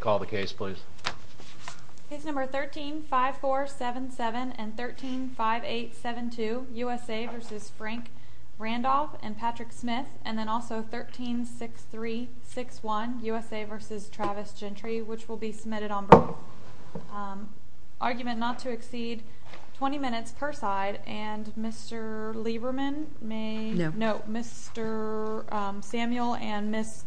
and then also 13 6 3 6 1 USA v. Travis Gentry which will be submitted on argument not to exceed 20 minutes per side and Mr. Lieberman may know Mr. Samuel and Miss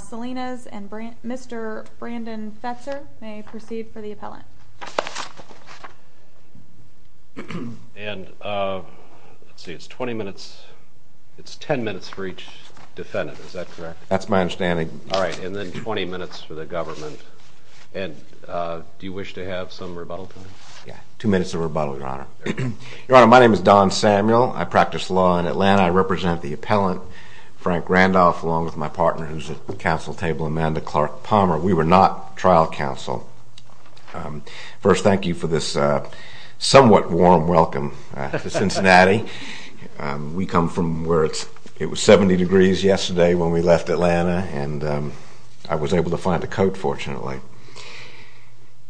Salinas and Brent Mr. Brandt will be submitted on argument not to exceed 20 minutes per side and Mr. Brandon Fetzer may proceed for the appellant and let's see it's 20 minutes it's 10 minutes for each defendant is that correct that's my understanding all right and then 20 minutes for the government and do you wish to have some rebuttal yeah two minutes of rebuttal your honor your honor my name is Don Samuel I practice law in Atlanta I represent the appellant Frank Randolph along with my partner who's at the council table Amanda Clark Palmer we were not trial counsel first thank you for this somewhat warm welcome to Cincinnati we come from where it's it was 70 degrees yesterday when we left Atlanta and I was able to find a coat fortunately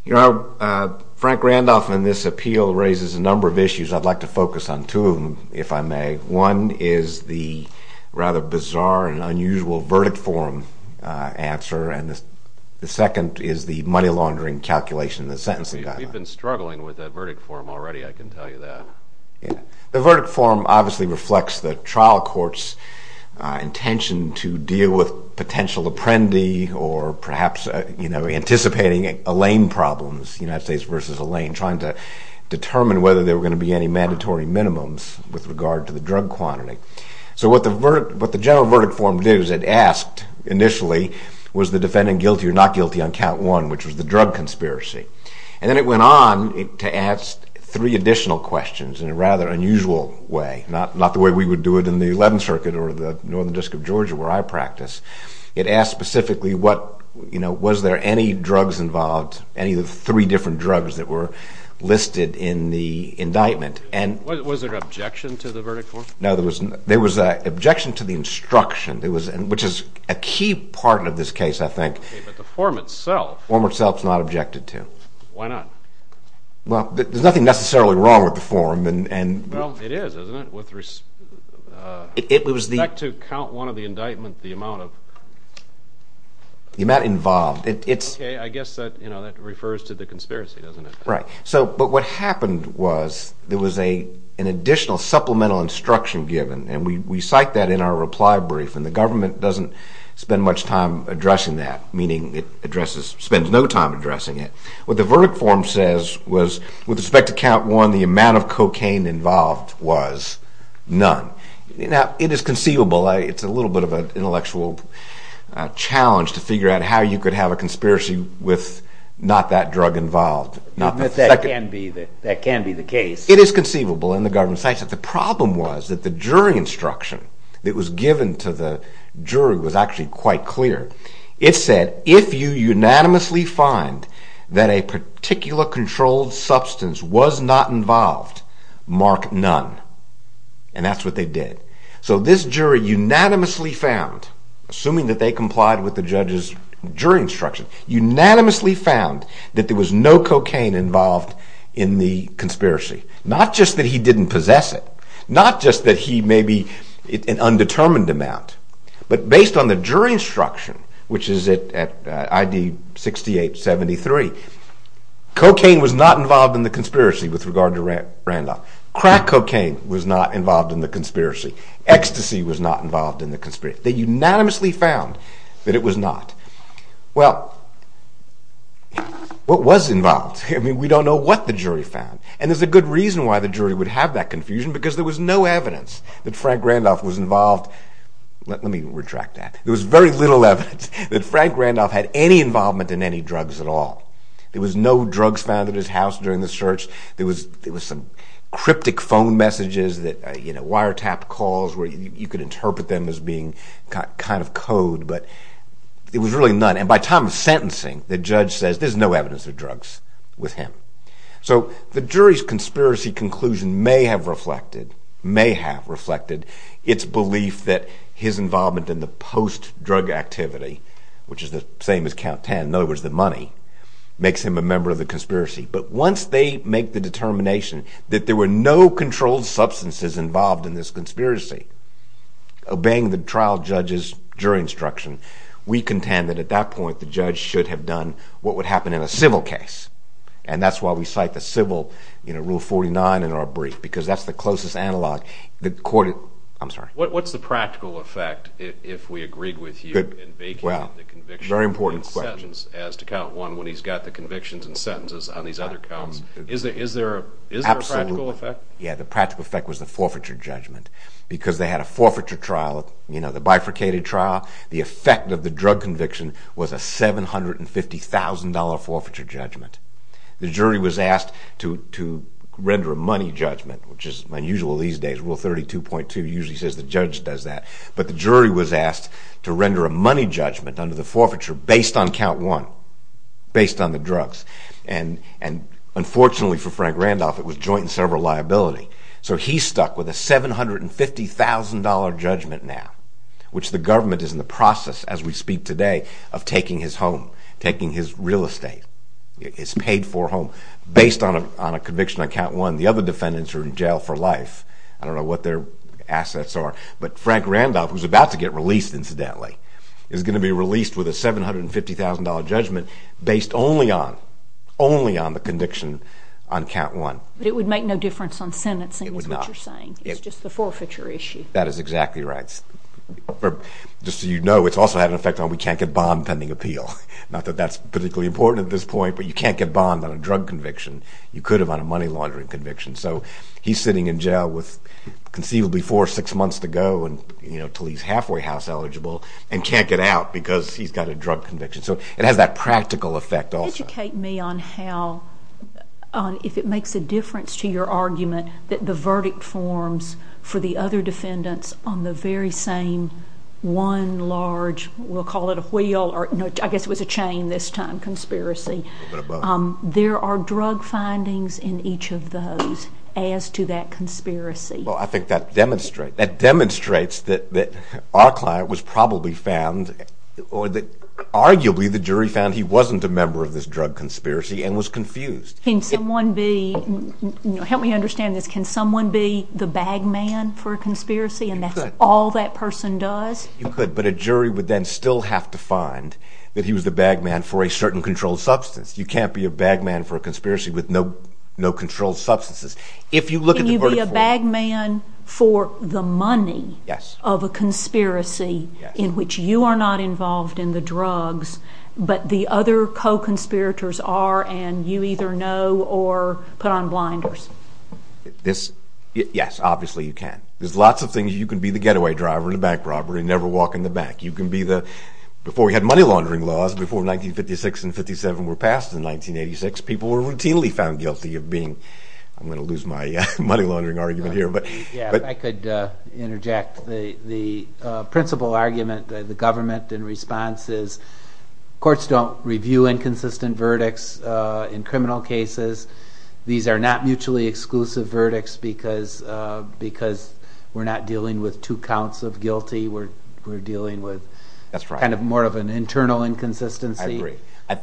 you know Frank Randolph and this appeal raises a number of issues I'd like to focus on two of them if I may one is the rather bizarre and answer and the second is the money laundering calculation the sentence you've been struggling with a verdict form already I can tell you that yeah the verdict form obviously reflects the trial courts intention to deal with potential apprendi or perhaps you know anticipating a lane problems United States versus a lane trying to determine whether they were going to be any mandatory minimums with regard to the drug quantity so what the verdict but it asked initially was the defendant guilty or not guilty on count one which was the drug conspiracy and then it went on to ask three additional questions in a rather unusual way not not the way we would do it in the 11th Circuit or the Northern District of Georgia where I practice it asked specifically what you know was there any drugs involved any of the three different drugs that were listed in the indictment and what was their objection to the verdict for now there was there was an objection to the instruction there was and which is a key part of this case I think the form itself form itself is not objected to why not well there's nothing necessarily wrong with the form and well it is isn't it with respect to count one of the indictment the amount of the amount involved it's okay I guess that you know that refers to the conspiracy doesn't it right so but what happened was there was a an additional supplemental instruction given and we cite that in our reply brief and the government doesn't spend much time addressing that meaning it addresses spends no time addressing it what the verdict form says was with respect to count one the amount of cocaine involved was none now it is conceivable it's a little bit of an intellectual challenge to figure out how you could have a conspiracy with not that drug involved not that can be that that can be the case it is conceivable in the government says that the problem was that the jury instruction that was given to the jury was actually quite clear it said if you unanimously find that a particular controlled substance was not involved mark none and that's what they did so this jury unanimously found assuming that they complied with the judge's jury instruction unanimously found that there was no cocaine involved in the conspiracy not just that he didn't possess it not just that he may be an undetermined amount but based on the jury instruction which is it at ID 6873 cocaine was not involved in the conspiracy with regard to rent Randolph crack cocaine was not involved in the conspiracy ecstasy was not involved in the conspiracy they unanimously found that it was not well what was involved I mean we don't know what the jury found and there's a good reason why the jury would have that confusion because there was no evidence that Frank Randolph was involved let me retract that there was very little evidence that Frank Randolph had any involvement in any drugs at all there was no drugs found at his house during the search there was there was some cryptic phone messages that you know wiretap calls where you could interpret them as being kind of code but it was really none and by time of sentencing the judge says there's no evidence of drugs with him so the jury's conspiracy conclusion may have reflected may have reflected its belief that his involvement in the post drug activity which is the same as count 10 in other words the money makes him a member of the conspiracy but once they make the determination that there were no controlled substances involved in this conspiracy obeying the trial judge's jury instruction we contend that at that point the judge should have done what happened in a civil case and that's why we cite the civil you know rule 49 in our brief because that's the closest analog the court I'm sorry what's the practical effect if we agreed with you good well the conviction very important questions as to count one when he's got the convictions and sentences on these other counts is there is there is absolutely effect yeah the practical effect was the forfeiture judgment because they had a forfeiture trial you know the bifurcated trial the effect of the drug conviction was a seven hundred and fifty thousand dollar forfeiture judgment the jury was asked to to render a money judgment which is unusual these days rule 32.2 usually says the judge does that but the jury was asked to render a money judgment under the forfeiture based on count one based on the drugs and and unfortunately for Frank Randolph it was joint and several liability so he stuck with a seven hundred and fifty thousand dollar judgment now which the government is in process as we speak today of taking his home taking his real estate it's paid for home based on a on a conviction on count one the other defendants are in jail for life I don't know what their assets are but Frank Randolph was about to get released incidentally is going to be released with a seven hundred and fifty thousand dollar judgment based only on only on the conviction on count one it would make no difference on sentencing it would not you're saying it's just the forfeiture issue that is exactly right just so you know it's also had an effect on we can't get bond pending appeal not that that's particularly important at this point but you can't get bond on a drug conviction you could have on a money laundering conviction so he's sitting in jail with conceivably for six months to go and you know till he's halfway house eligible and can't get out because he's got a drug conviction so it has that practical effect also educate me on how if it makes a difference to your argument that the verdict forms for the other defendants on the very same one large we'll call it a wheel or no I guess it was a chain this time conspiracy there are drug findings in each of those as to that conspiracy well I think that demonstrate that demonstrates that that our client was probably found or that arguably the jury found he wasn't a member of this drug conspiracy and was bag man for a conspiracy and that's all that person does you could but a jury would then still have to find that he was the bag man for a certain controlled substance you can't be a bag man for a conspiracy with no no controlled substances if you look at you be a bag man for the money yes of a conspiracy in which you are not involved in the drugs but the other co-conspirators are and you either know or put on blinders this yes obviously you can there's lots of things you can be the getaway driver in a bank robbery never walk in the back you can be the before we had money laundering laws before 1956 and 57 were passed in 1986 people were routinely found guilty of being I'm gonna lose my money laundering argument here but I could interject the the principal argument the government in response is courts don't review inconsistent verdicts in criminal cases these are not mutually exclusive verdicts because because we're not dealing with two counts of guilty we're we're dealing with that's right kind of more of an internal inconsistency I agree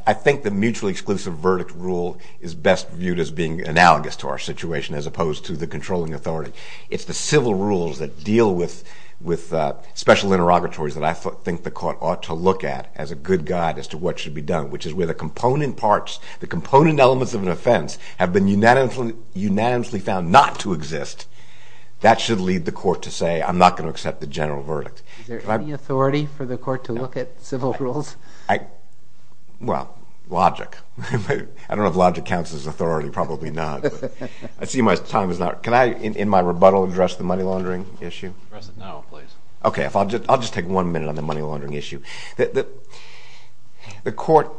I think the mutually exclusive verdict rule is best viewed as being analogous to our situation as opposed to the controlling authority it's the civil rules that deal with with special interrogatories that I think the court ought to look at as a good guide as to what should be done which is where the component parts the component elements of an offense have been unanimously unanimously found not to exist that should lead the court to say I'm not going to accept the general verdict authority for the court to look at civil rules I well logic I don't have logic counts as authority probably not I see my time is not can I in my rebuttal address the money laundering issue okay if I'll just I'll just take one minute on the money laundering issue that the court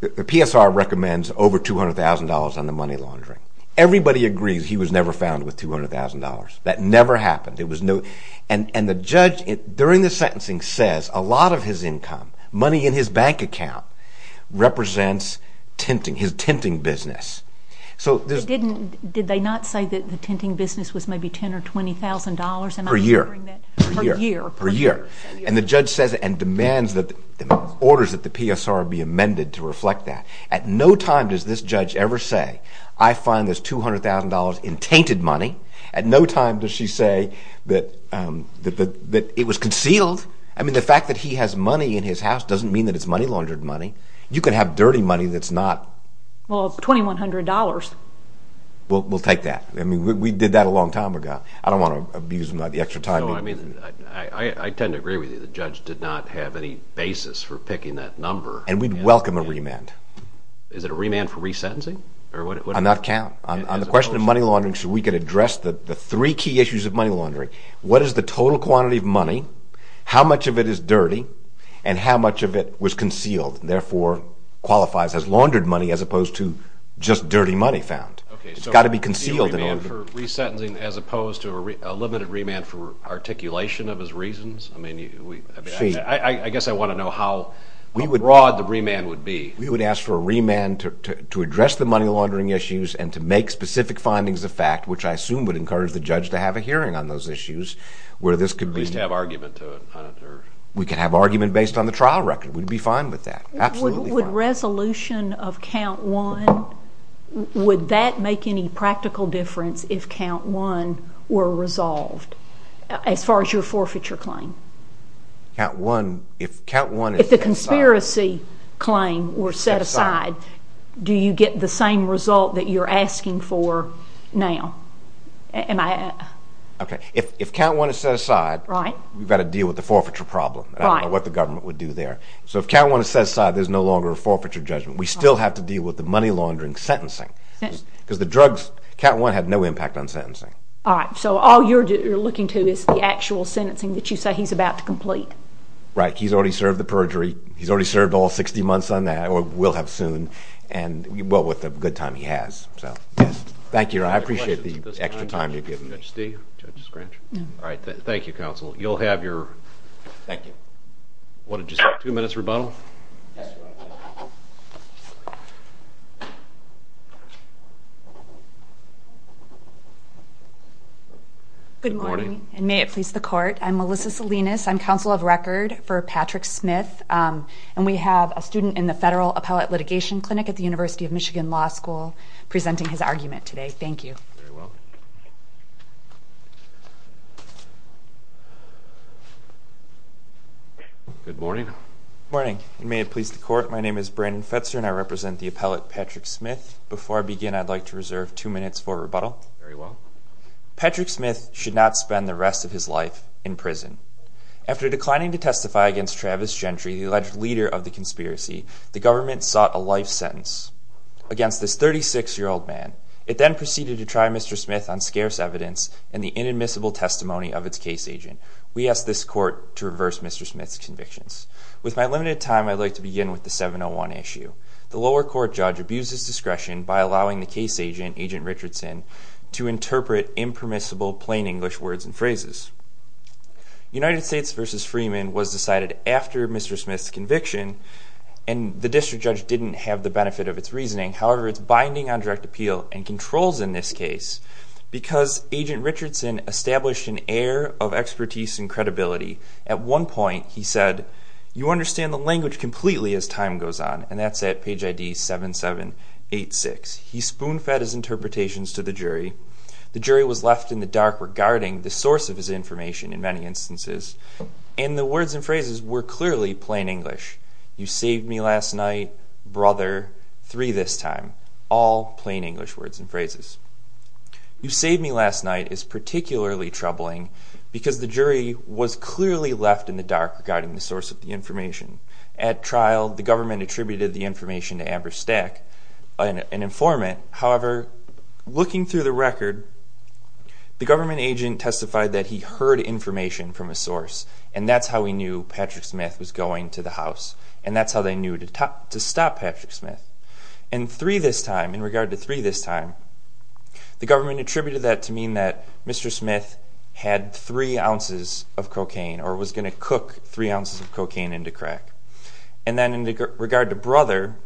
the PSR recommends over $200,000 on the money laundering everybody agrees he was never found with $200,000 that never happened it was no and and the judge it during the sentencing says a lot of his income money in his bank account represents tempting his tempting business so this didn't did they not say that the tempting business was maybe ten or $20,000 per year per year per year and the judge says and demands that orders that the PSR be amended to reflect that at no time does this judge ever say I find this $200,000 in tainted money at no time does she say that that that it was concealed I mean the fact that he has money in his house doesn't mean that it's money laundered money you can have dirty money that's not well we'll we'll take that I mean we did that a long time ago I don't want to abuse my the extra time I mean I I tend to agree with you the judge did not have any basis for picking that number and we'd welcome a remand is it a remand for resentencing or what I'm not count on the question of money laundering so we could address the three key issues of money laundering what is the total quantity of money how much of it is dirty and how much of it was concealed therefore qualifies as laundered money as opposed to just dirty money found okay it's got to be concealed in order for resentencing as opposed to a limited remand for articulation of his reasons I mean I guess I want to know how we would broad the remand would be we would ask for a remand to address the money laundering issues and to make specific findings of fact which I assume would encourage the judge to have a hearing on those issues where this could be to have argument to it we can have argument based on the trial record we'd be fine with that absolutely resolution of count one would that make any practical difference if count one were resolved as far as your forfeiture claim count one if count one if the conspiracy claim were set aside do you get the same result that you're asking for now and I okay if count one is set aside right we've got to deal with the forfeiture problem right what the government would have to do there so if count one is set aside there's no longer a forfeiture judgment we still have to deal with the money laundering sentencing because the drugs count one had no impact on sentencing all right so all you're looking to is the actual sentencing that you say he's about to complete right he's already served the perjury he's already served all 60 months on that or will have soon and well with a good time he has so yes thank you I appreciate the extra time you've given me Steve all right thank you counsel you'll have your thank you what did you two minutes rebuttal good morning and may it please the court I'm Melissa Salinas I'm counsel of record for Patrick Smith and we have a student in the federal appellate litigation clinic at the University of Michigan Law School presenting his argument today thank you good morning morning and may it please the court my name is Brandon Fetzer and I represent the appellate Patrick Smith before I begin I'd like to reserve two minutes for rebuttal very well Patrick Smith should not spend the rest of his life in prison after declining to testify against Travis Gentry the alleged leader of the conspiracy the government sought a life sentence against this 36 year old man it then proceeded to try Mr. Smith on scarce evidence and the inadmissible testimony of its case agent we asked this court to reverse mr. Smith's convictions with my limited time I'd like to begin with the 701 issue the lower court judge abuses discretion by allowing the case agent agent Richardson to interpret impermissible plain English words and phrases United States versus Freeman was decided after mr. Smith's conviction and the district judge didn't have the benefit of its reasoning however it's binding on direct appeal and expertise and credibility at one point he said you understand the language completely as time goes on and that's at page ID seven seven eight six he spoon fed his interpretations to the jury the jury was left in the dark regarding the source of his information in many instances and the words and phrases were clearly plain English you saved me last night brother three this time all plain English words and phrases you saved me last night is particularly troubling because the jury was clearly left in the dark regarding the source of the information at trial the government attributed the information to average stack an informant however looking through the record the government agent testified that he heard information from a source and that's how we knew Patrick Smith was going to the house and that's how they knew to talk to stop Patrick Smith and three this time in regard to three this time the government attributed that to mean that mr. Smith had three ounces of cocaine or was going to cook three ounces of cocaine into crack and then in regard to brother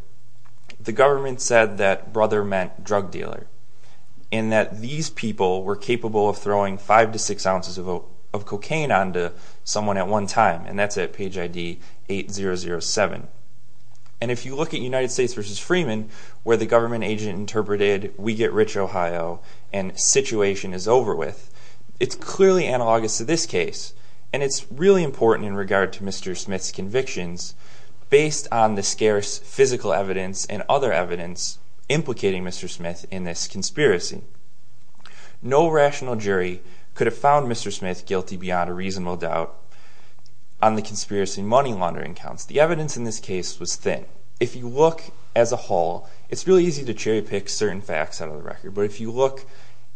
the government said that brother meant drug dealer in that these people were capable of throwing five to six ounces of cocaine on to someone at one time and that's at 007 and if you look at United States versus Freeman where the government agent interpreted we get rich Ohio and situation is over with it's clearly analogous to this case and it's really important in regard to mr. Smith's convictions based on the scarce physical evidence and other evidence implicating mr. Smith in this conspiracy no rational jury could have found mr. Smith guilty beyond a conspiracy money laundering counts the evidence in this case was thin if you look as a whole it's really easy to cherry-pick certain facts out of the record but if you look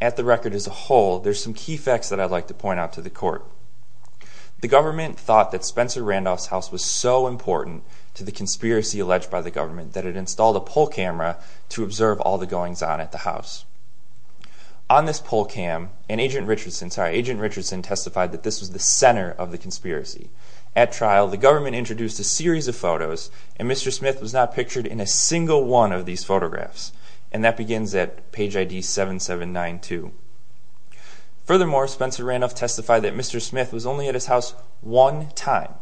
at the record as a whole there's some key facts that I'd like to point out to the court the government thought that Spencer Randolph's house was so important to the conspiracy alleged by the government that it installed a poll camera to observe all the goings on at the house on this poll cam and agent Richardson sorry agent Richardson testified that this was the conspiracy at trial the government introduced a series of photos and mr. Smith was not pictured in a single one of these photographs and that begins at page ID 7792 furthermore Spencer Randolph testified that mr. Smith was only at his house one time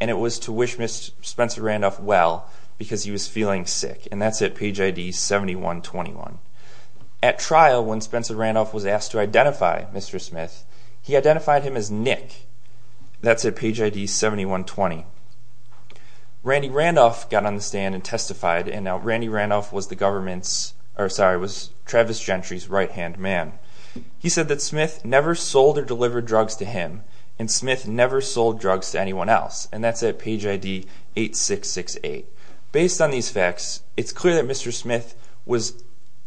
and it was to wish mr. Spencer Randolph well because he was feeling sick and that's at page ID 7121 at trial when Spencer Randolph was asked to identify mr. Smith he identified him as Nick that's at page ID 7120 Randy Randolph got on the stand and testified and now Randy Randolph was the government's or sorry was Travis Gentry's right-hand man he said that Smith never sold or delivered drugs to him and Smith never sold drugs to anyone else and that's at page ID eight six six eight based on these facts it's clear that mr. Smith was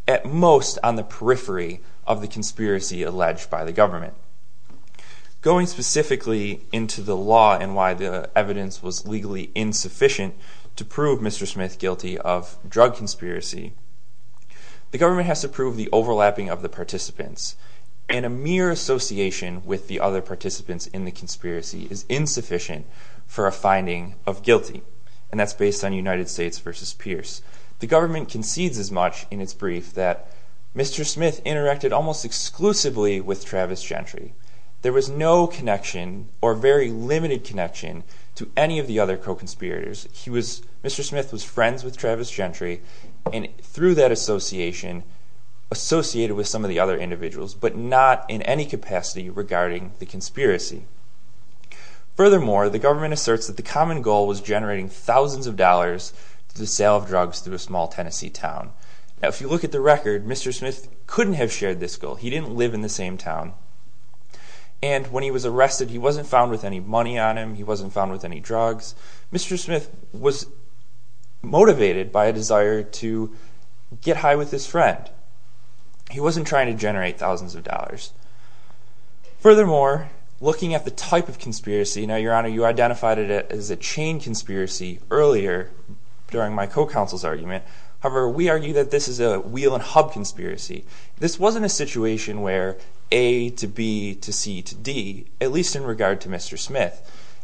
at most on the periphery of the conspiracy alleged by the government going specifically into the law and why the evidence was legally insufficient to prove mr. Smith guilty of drug conspiracy the government has to prove the overlapping of the participants in a mere association with the other participants in the conspiracy is insufficient for a finding of guilty and that's based on United States versus Pierce the government concedes as much in its brief that mr. Smith interacted almost exclusively with Travis Gentry there was no connection or very limited connection to any of the other co-conspirators he was mr. Smith was friends with Travis Gentry and through that association associated with some of the other individuals but not in any capacity regarding the conspiracy furthermore the government asserts that the common goal was generating thousands of dollars to the sale of drugs through a small Tennessee town now if you look at the record mr. Smith couldn't have shared this goal he didn't live in the same town and when he was arrested he wasn't found with any money on him he wasn't found with any drugs mr. Smith was motivated by a desire to get high with his friend he wasn't trying to generate thousands of dollars furthermore looking at the type of conspiracy earlier during my co-counsel's argument however we argue that this is a wheel and hub conspiracy this wasn't a situation where a to B to C to D at least in regard to mr. Smith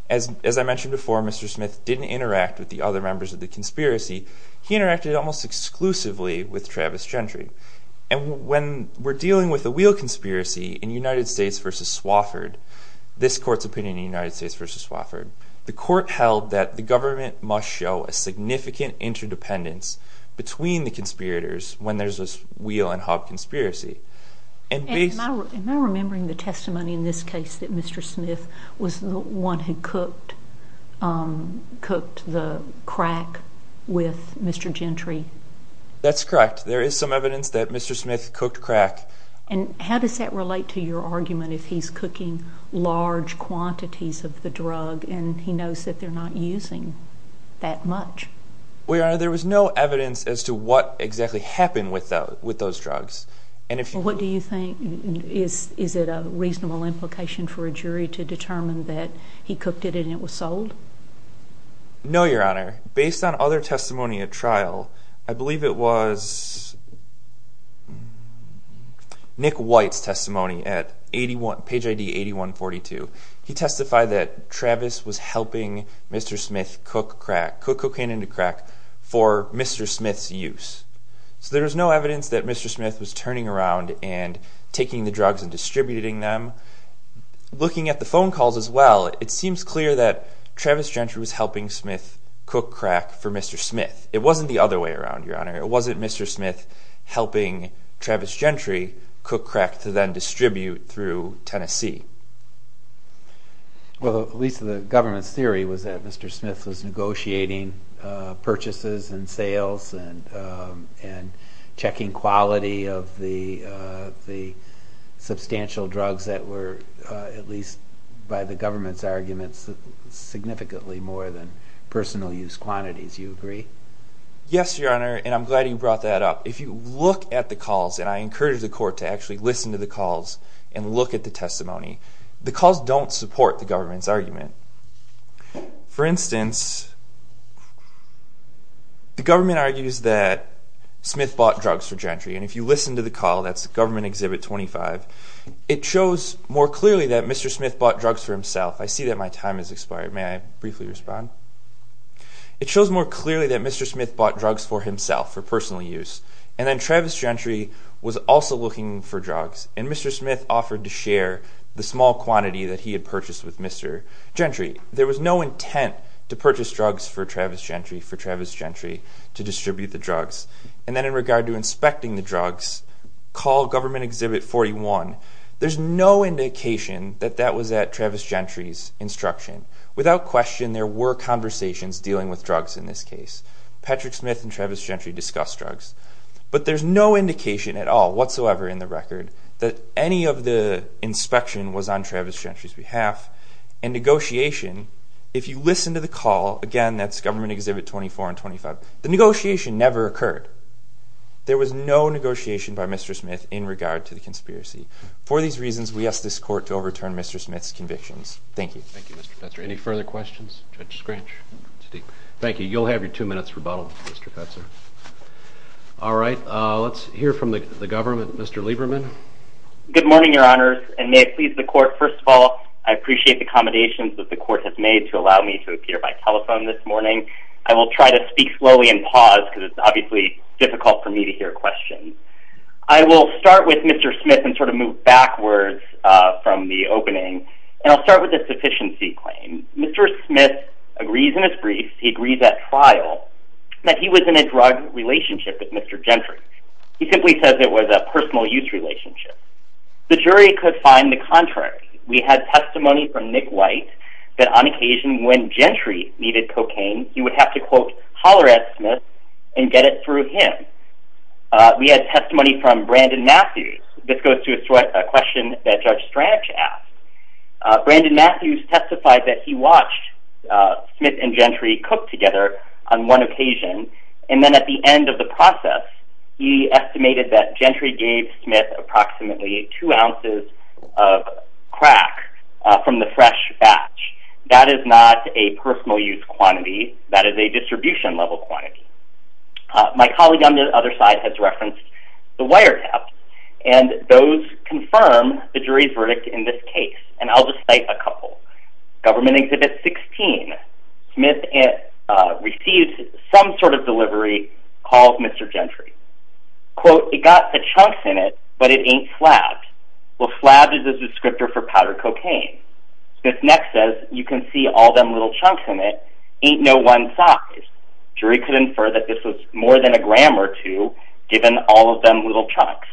as I mentioned before mr. Smith didn't interact with the other members of the conspiracy he interacted almost exclusively with Travis Gentry and when we're dealing with the wheel conspiracy in United States versus Wofford this court's opinion United States versus Wofford the court held that the government must show a significant interdependence between the conspirators when there's this wheel and hub conspiracy and remembering the testimony in this case that mr. Smith was the one who cooked cooked the crack with mr. Gentry that's correct there is some evidence that mr. Smith cooked crack and how does that relate to your knows that they're not using that much we are there was no evidence as to what exactly happened without with those drugs and if you what do you think is is it a reasonable implication for a jury to determine that he cooked it and it was sold no your honor based on other testimony at trial I believe it was Nick testimony at 81 page ID 8142 he testified that Travis was helping mr. Smith cook crack cook cocaine into crack for mr. Smith's use so there was no evidence that mr. Smith was turning around and taking the drugs and distributing them looking at the phone calls as well it seems clear that Travis Gentry was helping Smith cook crack for mr. Smith it wasn't the other way around your honor it wasn't mr. Smith helping Travis Gentry cook crack to then distribute through Tennessee well at least the government's theory was that mr. Smith was negotiating purchases and sales and and checking quality of the the substantial drugs that were at least by the government's arguments significantly more than personal use quantities you agree yes your honor and I'm glad you brought that up if you look at the calls and I encourage the court to actually listen to the calls and look at the testimony the calls don't support the government's argument for instance the government argues that Smith bought drugs for Gentry and if you listen to the call that's the government exhibit 25 it shows more clearly that mr. Smith bought drugs for himself I see that my time has expired may I briefly respond it shows more clearly that mr. Smith bought drugs for himself for personal use and then Travis Gentry was also looking for drugs and mr. Smith offered to share the small quantity that he had purchased with mr. Gentry there was no intent to purchase drugs for Travis Gentry for Travis Gentry to distribute the drugs and then in regard to inspecting the drugs call government exhibit 41 there's no indication that that was at Travis Gentry's instruction without question there were conversations dealing with drugs in this case Patrick Smith and Travis Gentry discussed drugs but there's no indication at all whatsoever in the record that any of the inspection was on Travis Gentry's behalf and negotiation if you listen to the call again that's government exhibit 24 and 25 the negotiation never occurred there was no negotiation by mr. Smith in regard to mr. Smith's convictions thank you any further questions thank you you'll have your two minutes rebuttal all right let's hear from the government mr. Lieberman good morning your honors and may it please the court first of all I appreciate the accommodations that the court has made to allow me to appear by telephone this morning I will try to speak slowly and pause because it's obviously difficult for me to hear questions I will start with mr. Smith and move backwards from the opening and I'll start with the sufficiency claim mr. Smith agrees in his briefs he agrees at trial that he was in a drug relationship with mr. Gentry he simply says it was a personal youth relationship the jury could find the contrary we had testimony from Nick White that on occasion when Gentry needed cocaine you would have to quote holler at Smith and get it through him we had testimony from Brandon Matthews this goes to a question that judge Strange asked Brandon Matthews testified that he watched Smith and Gentry cook together on one occasion and then at the end of the process he estimated that Gentry gave Smith approximately two ounces of crack from the fresh batch that is not a personal use quantity that is a distribution level quantity my colleague on the other side has those confirm the jury's verdict in this case and I'll just say a couple government exhibit 16 Smith it received some sort of delivery called mr. Gentry quote it got the chunks in it but it ain't slapped well slab is a descriptor for powder cocaine Smith next says you can see all them little chunks in it ain't no one size jury could infer that this was more than a gram or two given all of them little chunks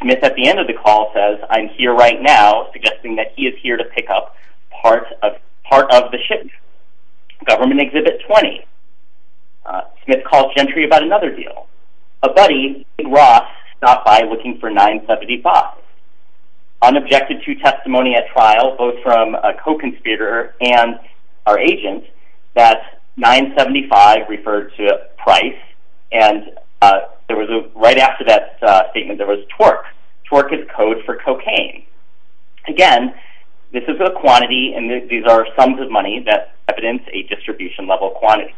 Smith at the end of the call says I'm here right now suggesting that he is here to pick up part of part of the ship government exhibit 20 Smith called Gentry about another deal a buddy Ross not by looking for 975 unobjected to testimony at trial both from a co-conspirator and our agent that 975 referred to price and there was a right after that statement there was torque torque is code for cocaine again this is a quantity and these are sums of money that evidence a distribution level quantity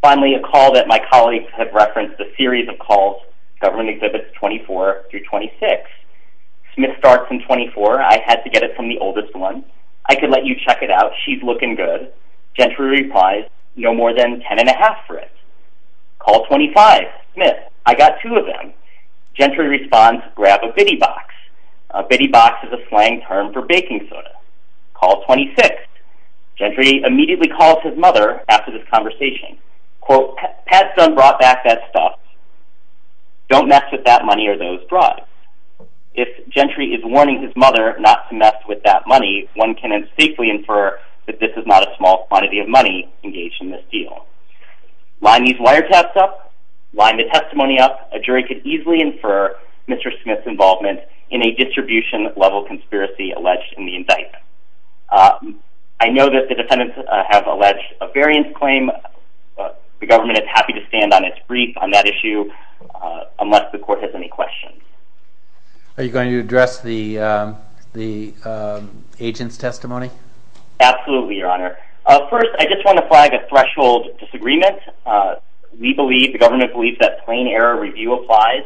finally a call that my colleagues have referenced the series of calls government exhibits 24 through 26 Smith starts in 24 I had to get it from the oldest one I could let you check it out she's looking good gentry replies no more than ten and a half for it call 25 Smith I got two of them gentry responds grab a bitty box a bitty box is a slang term for baking soda call 26 gentry immediately calls his mother after this conversation quote had some brought back that stuff don't mess with that money or those broad if gentry is warning his mother not to mess with that money one can safely infer that this is not a small quantity of money engaged in this deal line these wiretaps up line the testimony up a jury could easily infer mr. Smith's involvement in a distribution level conspiracy alleged in the indictment I know that the defendants have alleged a variance claim the government is happy to stand on its brief on that issue unless the court has any questions are you going to address the the agent's testimony absolutely your honor first I just want to flag a threshold disagreement we believe the government believes that plain error review applies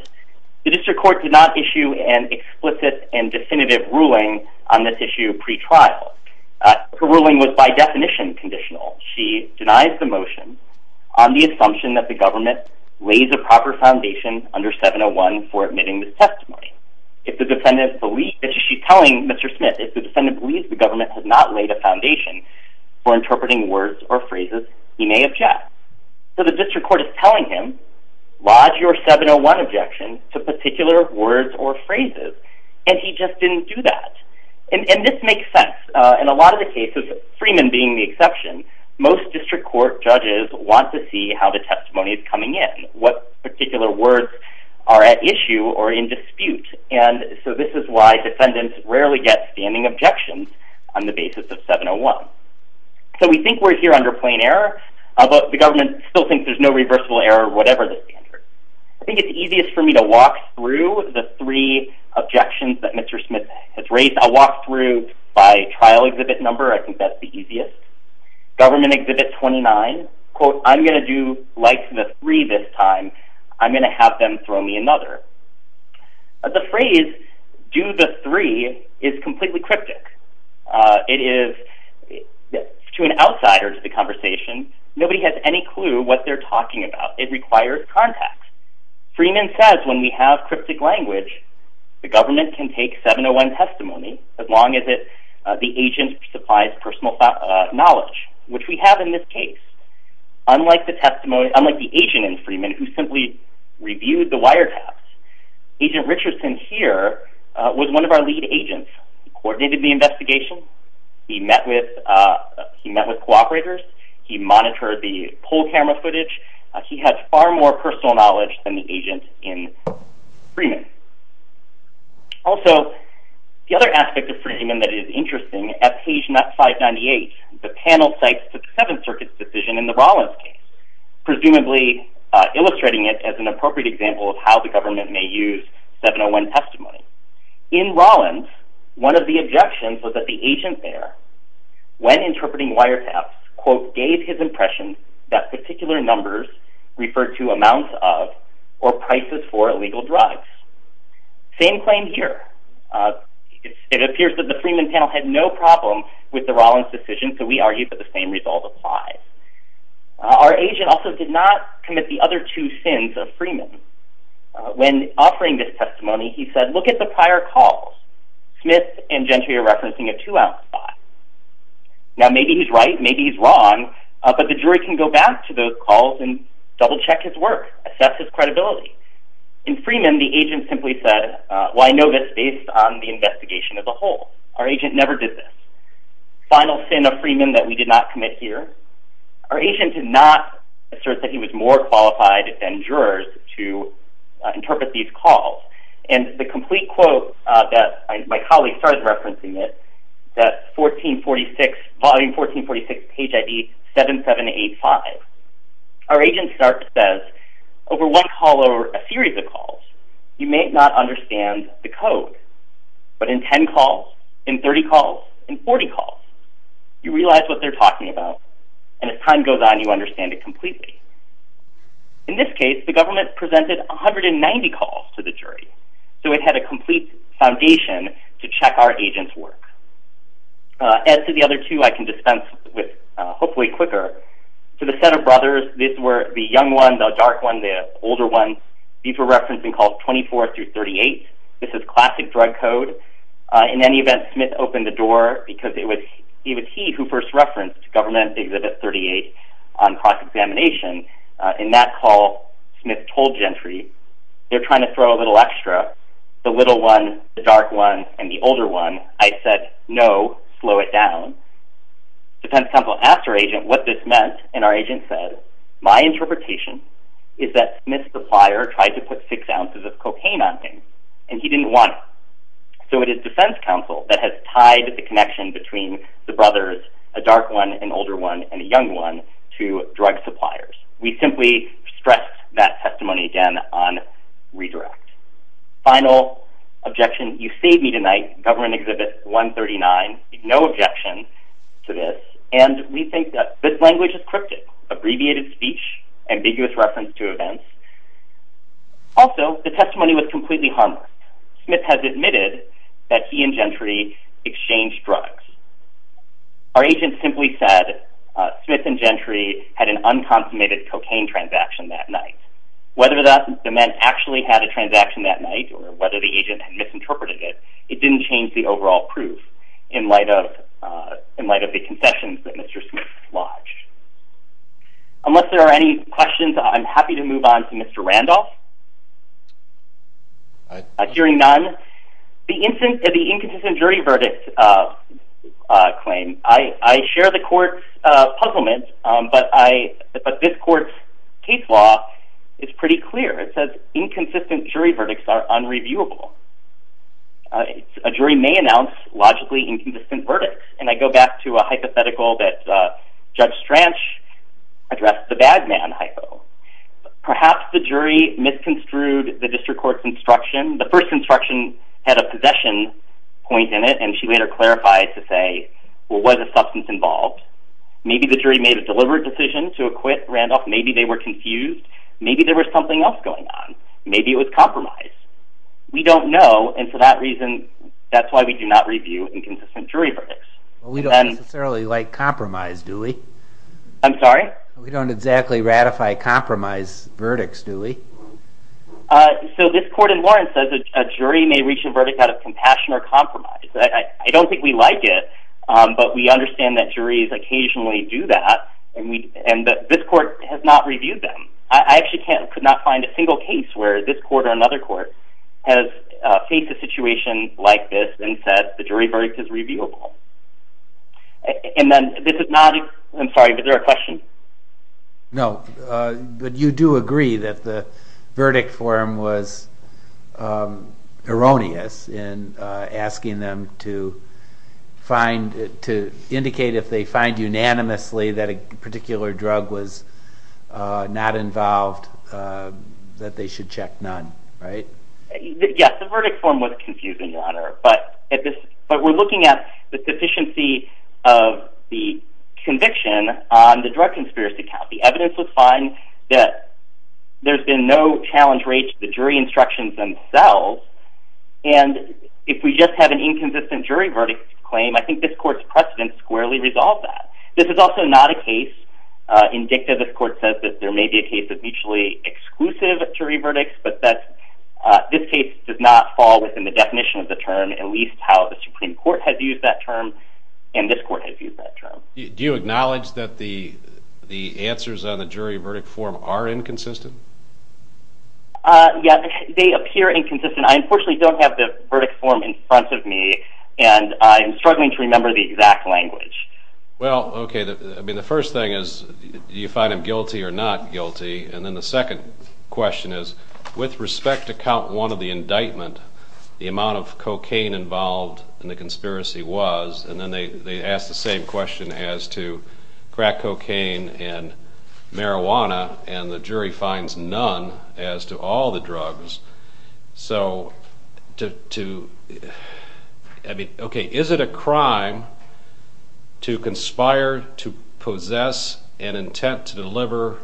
the district court did not issue an explicit and definitive ruling on this issue pretrial her ruling was by definition conditional she denies the motion on the assumption that the government lays a proper foundation under 701 for admitting this testimony if the defendant believe that she's telling mr. Smith if the defendant believes the government has not laid a foundation for interpreting words or phrases he may object so the district court is telling him lodge your 701 objection to particular words or phrases and he just didn't do that and this makes sense in a lot of the cases Freeman being the exception most district court judges want to see how the testimony is coming in what particular words are at issue or in dispute and so this is why defendants rarely get standing objections on the basis of 701 so we think we're here under plain error about the government still think there's no reversible error whatever the standard I think it's easiest for me to walk through the three objections that mr. Smith has raised I'll walk through by trial exhibit number I think that's the easiest government exhibit 29 quote I'm going to do like the three this time I'm going to have them throw me another the phrase do the three is completely cryptic it is to an outsider to the conversation nobody has any clue what they're talking about it requires contacts Freeman says when we have cryptic language the government can take 701 testimony as long as it the agent supplies personal knowledge which we have in this case unlike the testimony unlike the agent in Freeman who simply reviewed the wiretaps agent Richardson here was one of our lead agents coordinated the investigation he met with he met with co-operators he monitored the whole camera footage he had far more personal knowledge than the agent in Freeman also the other aspect of Freeman that is interesting at page not 598 the panel sites to the Seventh Circuit's decision in the Rollins case presumably illustrating it as an appropriate example of how the government may use 701 testimony in Rollins one of the objections was that the agent there when interpreting wiretaps quote gave his impression that particular numbers referred to amounts of or prices for illegal drugs same claim here it appears that the Freeman panel had no problem with the Rollins decision so we argue that the same result applies our agent also did not commit the other two sins of Freeman when offering this testimony he said look at the prior calls Smith and Gentry are referencing a two ounce spot now maybe he's right maybe he's wrong but the jury can go back to those calls and double check his work assess his credibility in Freeman the agent simply said well I know this based on the investigation of the whole our agent never did this final sin of Freeman that we did not commit here our agent did not assert that he was more qualified than jurors to interpret these calls and the complete quote that my colleague started referencing it that 1446 volume 1446 page ID 7785 our agent says over one call over a series of calls you may not understand the code but in 10 calls in 30 calls and 40 calls you realize what they're talking about and as time goes on you understand it completely in this case the government presented 190 calls to the jury so it had a complete foundation to check our agents work as to the other two I can dispense with hopefully quicker to the set of brothers these were the young one the dark one the older one these were referencing calls 24 through 38 this is classic drug code in any event Smith opened the door because it was he who first referenced government exhibit 38 on cross examination in that call Smith told Gentry they're trying to throw a little extra the little one the dark one and the older one I said no slow it down defense counsel after agent what this meant and our agent said my interpretation is that Smith supplier tried to put six ounces of cocaine on him and he didn't want so it is defense counsel that has tied the connection between the brothers a dark one an older one and a young one to drug suppliers we simply stress that testimony again on redirect final objection you save me tonight government exhibit 139 no objection to this and we think that this language is cryptic abbreviated speech ambiguous reference to events also the testimony was completely harmless Smith has admitted that he and Gentry exchanged drugs our agent simply said Smith and Gentry had an unconsummated cocaine transaction that night whether that meant actually had a transaction that night or whether the agent misinterpreted it it didn't change the overall proof in light of in light of the concessions that Mr. Smith lodged unless there are any questions I'm happy to move on to Mr. Randolph hearing none the inconsistent jury verdict claim I share the court's puzzlement but this court's case law is pretty clear it says inconsistent jury verdicts are unreviewable a jury may announce logically inconsistent verdicts and I go back to a hypothetical that Judge Strange addressed the bad man hypo perhaps the jury misconstrued the district court's instruction the first instruction had a possession point in it and she later clarified to say what was the substance involved maybe the jury made a deliberate decision to acquit Randolph maybe they were confused maybe there was something else going on maybe it was compromise we don't know and for that reason that's why we do not review inconsistent jury verdicts we don't necessarily like compromise do we I'm sorry we don't exactly ratify compromise verdicts do we so this court in Lawrence says a jury may reach a verdict out of compassion or compromise I don't think we like it but we understand that juries occasionally do that and this court has not reviewed them I actually could not find a single case where this court or another court has faced a situation like this and said the jury verdict is reviewable and then this is not I'm sorry is there a question no but you do agree that the verdict forum was erroneous in asking them to find to indicate if they find unanimously that a particular drug was not involved that they should check none right yes the verdict forum was confusing your honor but we're looking at the deficiency of the conviction on the drug conspiracy count the evidence was fine that there's been no challenge rate to the jury instructions themselves and if we just have an inconsistent jury verdict claim I think this court's precedent squarely resolves that this is also not a case indicted this court says that there may be a case of mutually exclusive jury verdicts but that this case does not fall within the definition of the term at least how the Supreme Court has used that term and this court has used that term do you acknowledge that the answers on the jury verdict forum are inconsistent yes they appear inconsistent I unfortunately don't have the verdict forum in front of me and I'm struggling to remember the exact language well ok I mean the first thing is do you find him guilty or not guilty and then the second question is with respect to count one of the indictment the amount of cocaine involved in the conspiracy was and then they asked the same question as to crack cocaine and marijuana and the jury finds none as to all the drugs so to I mean ok is it a crime to conspire to possess an intent to deliver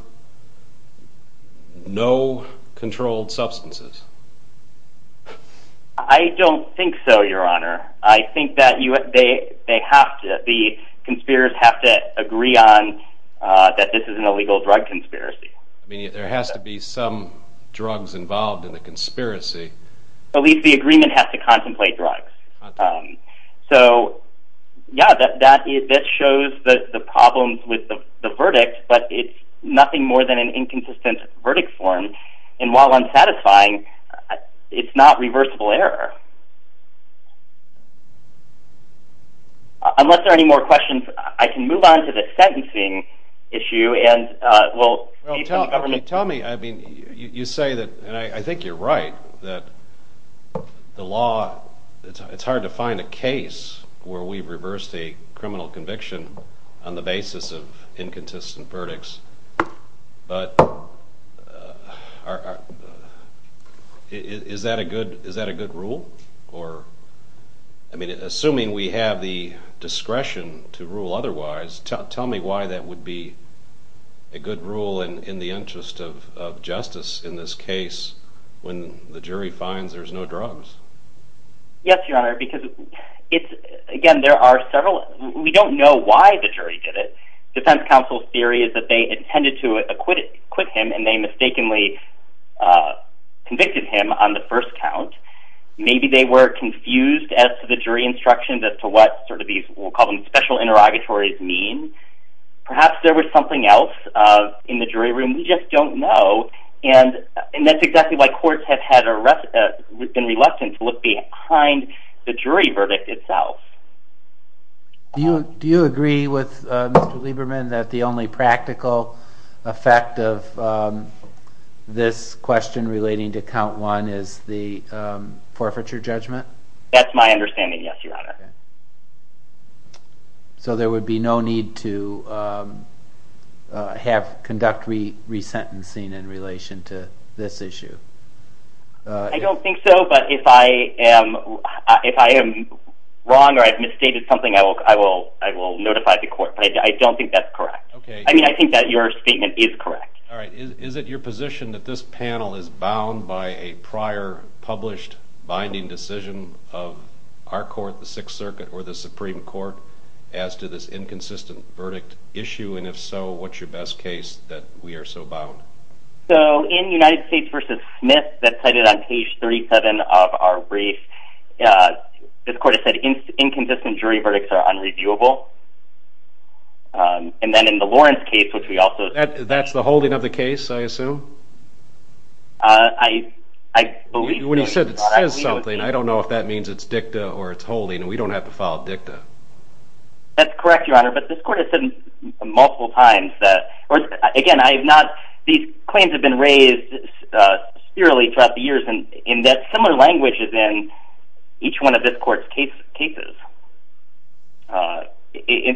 no controlled substances I don't think so your honor I think that they have to the conspirators have to agree on that this is an illegal drug conspiracy I mean there has to be some drugs involved in the conspiracy at least the agreement has to contemplate drugs so yeah that shows the problems with the verdict but it's nothing more than an inconsistent verdict forum and while unsatisfying it's not reversible error unless there are any more questions I can move on to the sentencing issue and well tell me I mean you say that and I think you're right that the law it's hard to find a case where we've reversed a criminal conviction on the basis of is that a good rule or I mean assuming we have the discretion to rule otherwise tell me why that would be a good rule in the interest of justice in this case when the jury finds there's no drugs yes your honor because it's again there are several we don't know why the jury did it defense counsel's theory is that they intended to acquit him and they mistakenly convicted him on the first count maybe they were confused as to the jury instructions as to what these special interrogatories mean perhaps there was something else in the jury room we just don't know and that's exactly why courts have been reluctant to look behind the jury verdict itself you do you agree with Lieberman that the only practical effect of this question relating to count one is the forfeiture judgment that's my understanding yes your honor so there would be no need to have conduct we resentencing in relation to this issue I don't think so but if I am wrong or I've misstated something I will notify the court but I don't think that's correct I mean I think that your statement is correct is it your position that this panel is bound by a prior published binding decision of our court the Sixth Circuit or the Supreme Court as to this inconsistent verdict issue and if so what's your best case that we are so bound so in United States versus Smith that's cited on page 37 of our brief this court has said inconsistent jury verdicts are unreviewable and then in the Lawrence case which we also that's the holding of the case I assume I believe when you said it says something I don't know if that means it's dicta or it's holding and we don't have to follow dicta that's correct your honor but this court has said multiple times that or again I have not these claims have been raised throughout the years in that similar language is in each one of this court's cases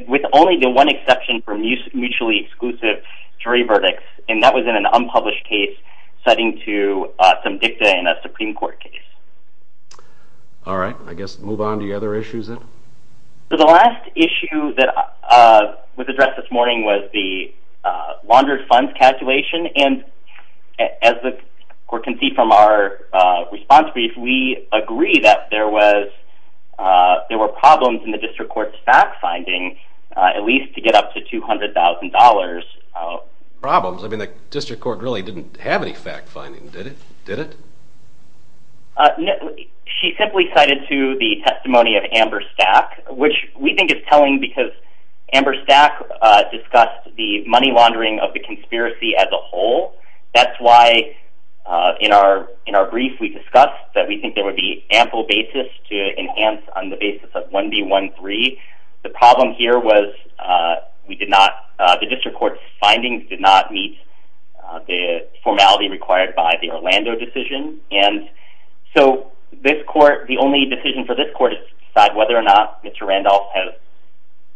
with only the one exception for mutually exclusive jury verdicts and that was in an unpublished case citing to some dicta in a Supreme Court case alright I guess move on to the other issues the last issue that was addressed this morning was the laundered funds calculation and as the court can see from our response brief we agree that there was there were problems in the district court's fact finding at least to get up to $200,000 problems I mean the district court really didn't have any fact finding did it she simply cited to the testimony of Amber Stack which we think is telling because Amber Stack discussed the money laundering of the conspiracy as a whole that's why in our brief we discussed that we think there would be ample basis to enhance on the basis of 1B13 the problem here was we did not the district court's findings did not meet the formality required by the Orlando decision and so this court the only decision for this court is to decide whether or not Mr. Randolph has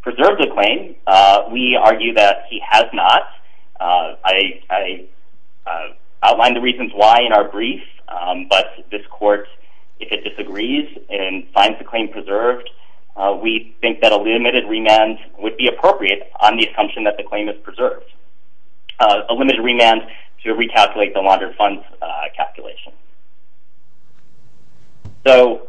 preserved the claim we argue that he has not I outlined the reasons why in our brief but this court if it disagrees and finds the claim preserved we think that a limited remand would be appropriate on the assumption that the claim is preserved a limited remand to recalculate the laundered funds calculation so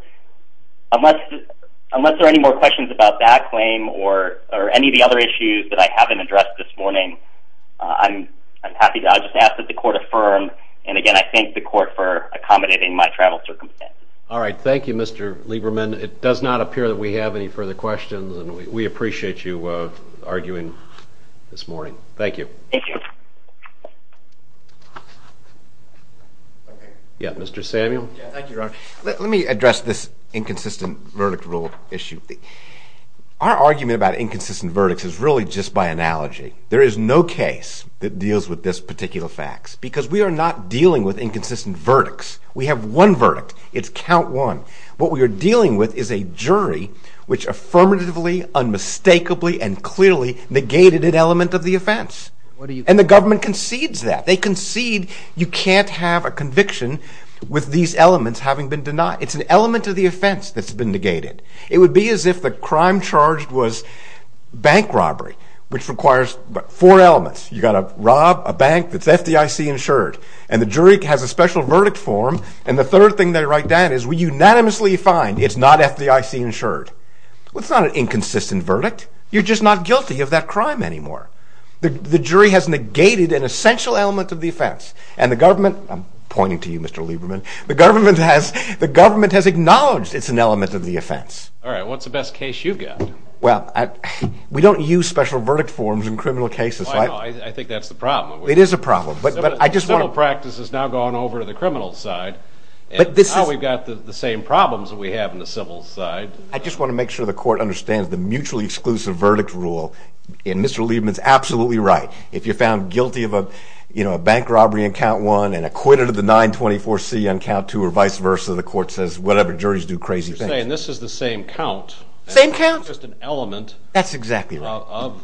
unless there are any more questions about that claim or any of the other issues that I haven't addressed this morning I'm happy to ask that the court affirm and again I thank the court for accommodating my travel circumstances. Alright thank you Mr. Lieberman it does not appear that we have any further questions and we appreciate you arguing this morning thank you. Thank you. Yeah Mr. Samuel. Let me address this inconsistent verdict rule issue our argument about inconsistent verdicts is really just by analogy there is no case that deals with this particular facts because we are not dealing with inconsistent verdicts we have one verdict it's count one what we are dealing with is a jury which affirmatively unmistakably and clearly negated an element of the offense and the government concedes that they concede you can't have a conviction with these elements having been denied it's an element of the offense that's been negated it would be as if the crime charged was bank robbery which requires four elements you got to rob a bank that's FDIC insured and the jury has a special verdict form and the third thing they write down is we unanimously find it's not FDIC insured it's not an inconsistent verdict you're just not guilty of that crime anymore the jury has negated an essential element of the offense and the government I'm pointing to you Mr. Lieberman the government has acknowledged it's an element of the offense alright what's the best case you've got well we don't use special verdict forms in criminal cases I think that's the problem it is a problem but civil practice has now gone over to the criminal side and now we've got the same problems we have in the civil side I just want to make sure the court understands the mutually exclusive verdict rule and Mr. Lieberman is absolutely right if you're found guilty of a bank robbery on count one and acquitted of the 924C on count two or vice versa the court says whatever juries do crazy things same count? that's exactly right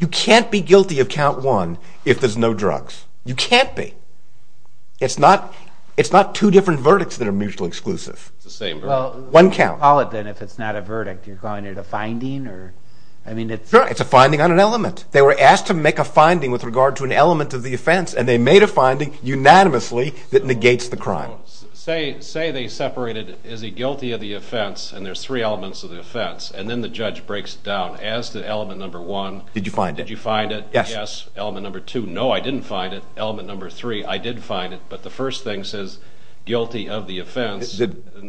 you can't be guilty of count one if there's no drugs you can't be it's not two different verdicts that are mutually exclusive it's the same one count call it then if it's not a verdict you're calling it a finding it's a finding on an element they were asked to make a finding with regard to an element of the offense and they made a finding unanimously that negates the crime say they separated is he guilty of the offense and there's three elements of the offense and then the judge breaks it down as to element number one did you find it yes element number two no I didn't find it element number three I did find it but the first thing says guilty of the offense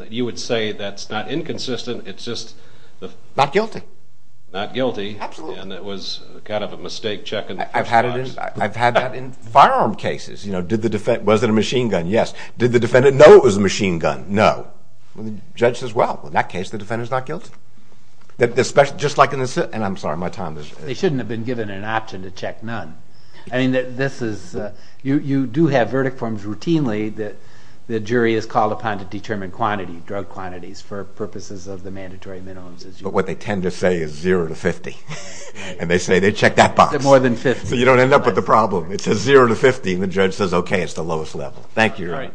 you would say that's not inconsistent it's just not guilty not guilty and it was kind of a mistake check I've had it in firearm cases you know did the defendant was it a machine gun yes did the defendant know it was a machine gun no well the judge says well in that case the defendant's not guilty they shouldn't have been given an option to check none I mean this is you do have verdict forms routinely that the jury is called upon to determine quantity drug quantities for purposes of the mandatory minimums but what they tend to say is zero to fifty and they say they check that box so you don't end up with the problem it says zero to fifty the judge says okay it's the lowest level thank you right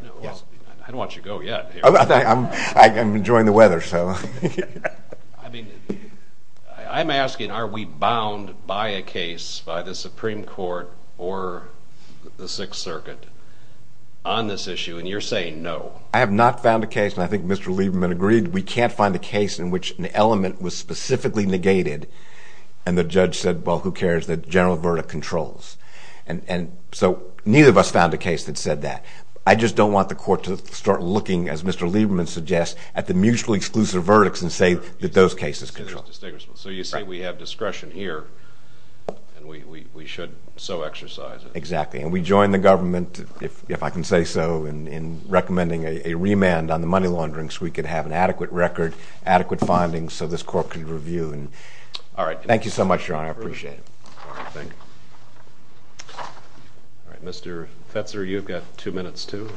I don't want you to go yet I'm enjoying the weather so I mean I'm asking are we bound by a case by the Supreme Court or the Sixth Circuit on this issue and you're saying no I have not found a case and I think Mr. Lieberman agreed we can't find a case in which an element was specifically negated and the judge said well who cares the general verdict controls and so neither of us found a case that said that I just don't want the court to start looking as Mr. Lieberman suggests at the mutually exclusive verdicts and say that those cases control so you say we have discretion here and we should so exercise it exactly and we join the government if I can say so in recommending a remand on the money laundering so we can have an adequate record adequate findings so this court can review thank you so much your honor I appreciate it Mr. Fetzer you've got two minutes too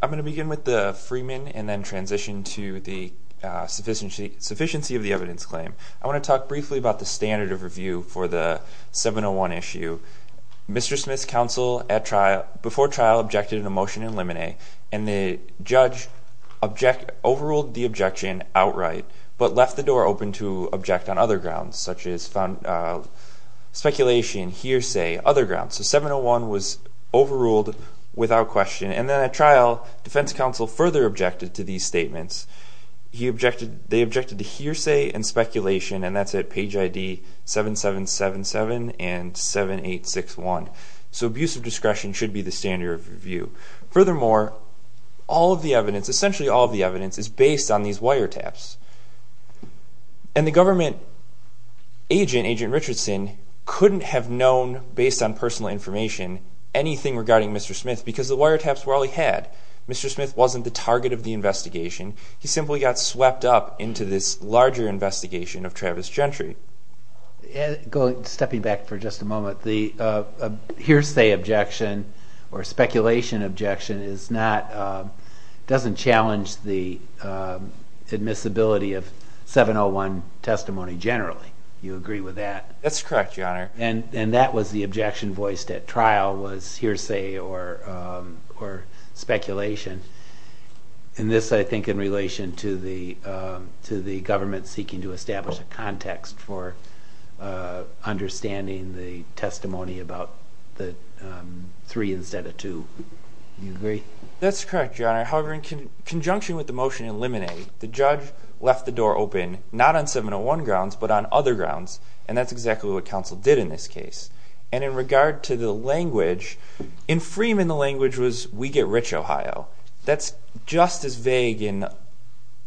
I'm going to begin with the Freeman and then transition to the sufficiency of the evidence claim I want to talk briefly about the standard of review for the 701 issue Mr. Smith's counsel at trial before trial objected in a motion in limine and the judge object overruled the objection outright but left the door open to object on other grounds such as speculation hearsay other grounds so 701 was overruled without question and then at Mr. Smith's counsel further objected to these statements he objected they objected to hearsay and speculation and that's at page ID 7777 and 7861 so abuse of discretion should be the standard of review furthermore all of the evidence essentially all of the evidence is based on these wiretaps and the government agent agent Richardson couldn't have known based on personal information anything regarding Mr. Smith because the wiretaps were all he had Mr. Smith wasn't the target of the investigation he simply got swept up into this larger investigation of Travis Gentry stepping back for just a moment the hearsay objection or speculation objection is not doesn't challenge the admissibility of 701 testimony generally you agree with that that's correct your honor and and that was the objection voiced at trial was hearsay or or speculation and this I think in relation to the to the government seeking to establish a context for understanding the testimony about the three instead of two you agree that's correct your honor however in conjunction with the motion in limine the judge left the door open not on 701 grounds but on other grounds and that's exactly what counsel did in this case and in regard to the language in Freeman the language was we get rich Ohio that's just as vague and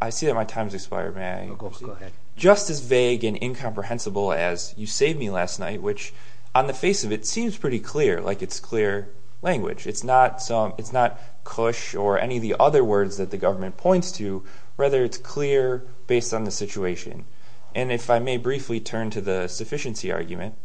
I see that my time has expired may I go ahead just as vague and incomprehensible as you saved me last night which on the face of it seems pretty clear like it's clear language it's not some it's not kush or any of the other words that the government points to rather it's clear based on the situation and if I may briefly turn to the sufficiency argument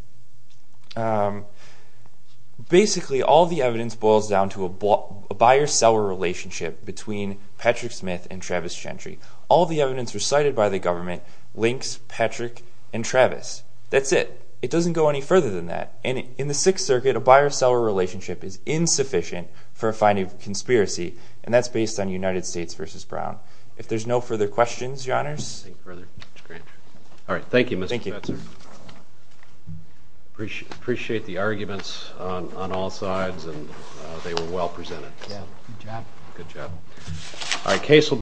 basically all the evidence boils down to a buyer seller relationship between Patrick Smith and Travis Gentry all the evidence recited by the government links Patrick and Travis that's it it doesn't go any further than that and in the Sixth Circuit a buyer seller relationship is insufficient for a finding of conspiracy and that's based on United States vs. Brown if there's no further questions your honors thank you Mr. Spencer appreciate the arguments on all sides and they were well presented good job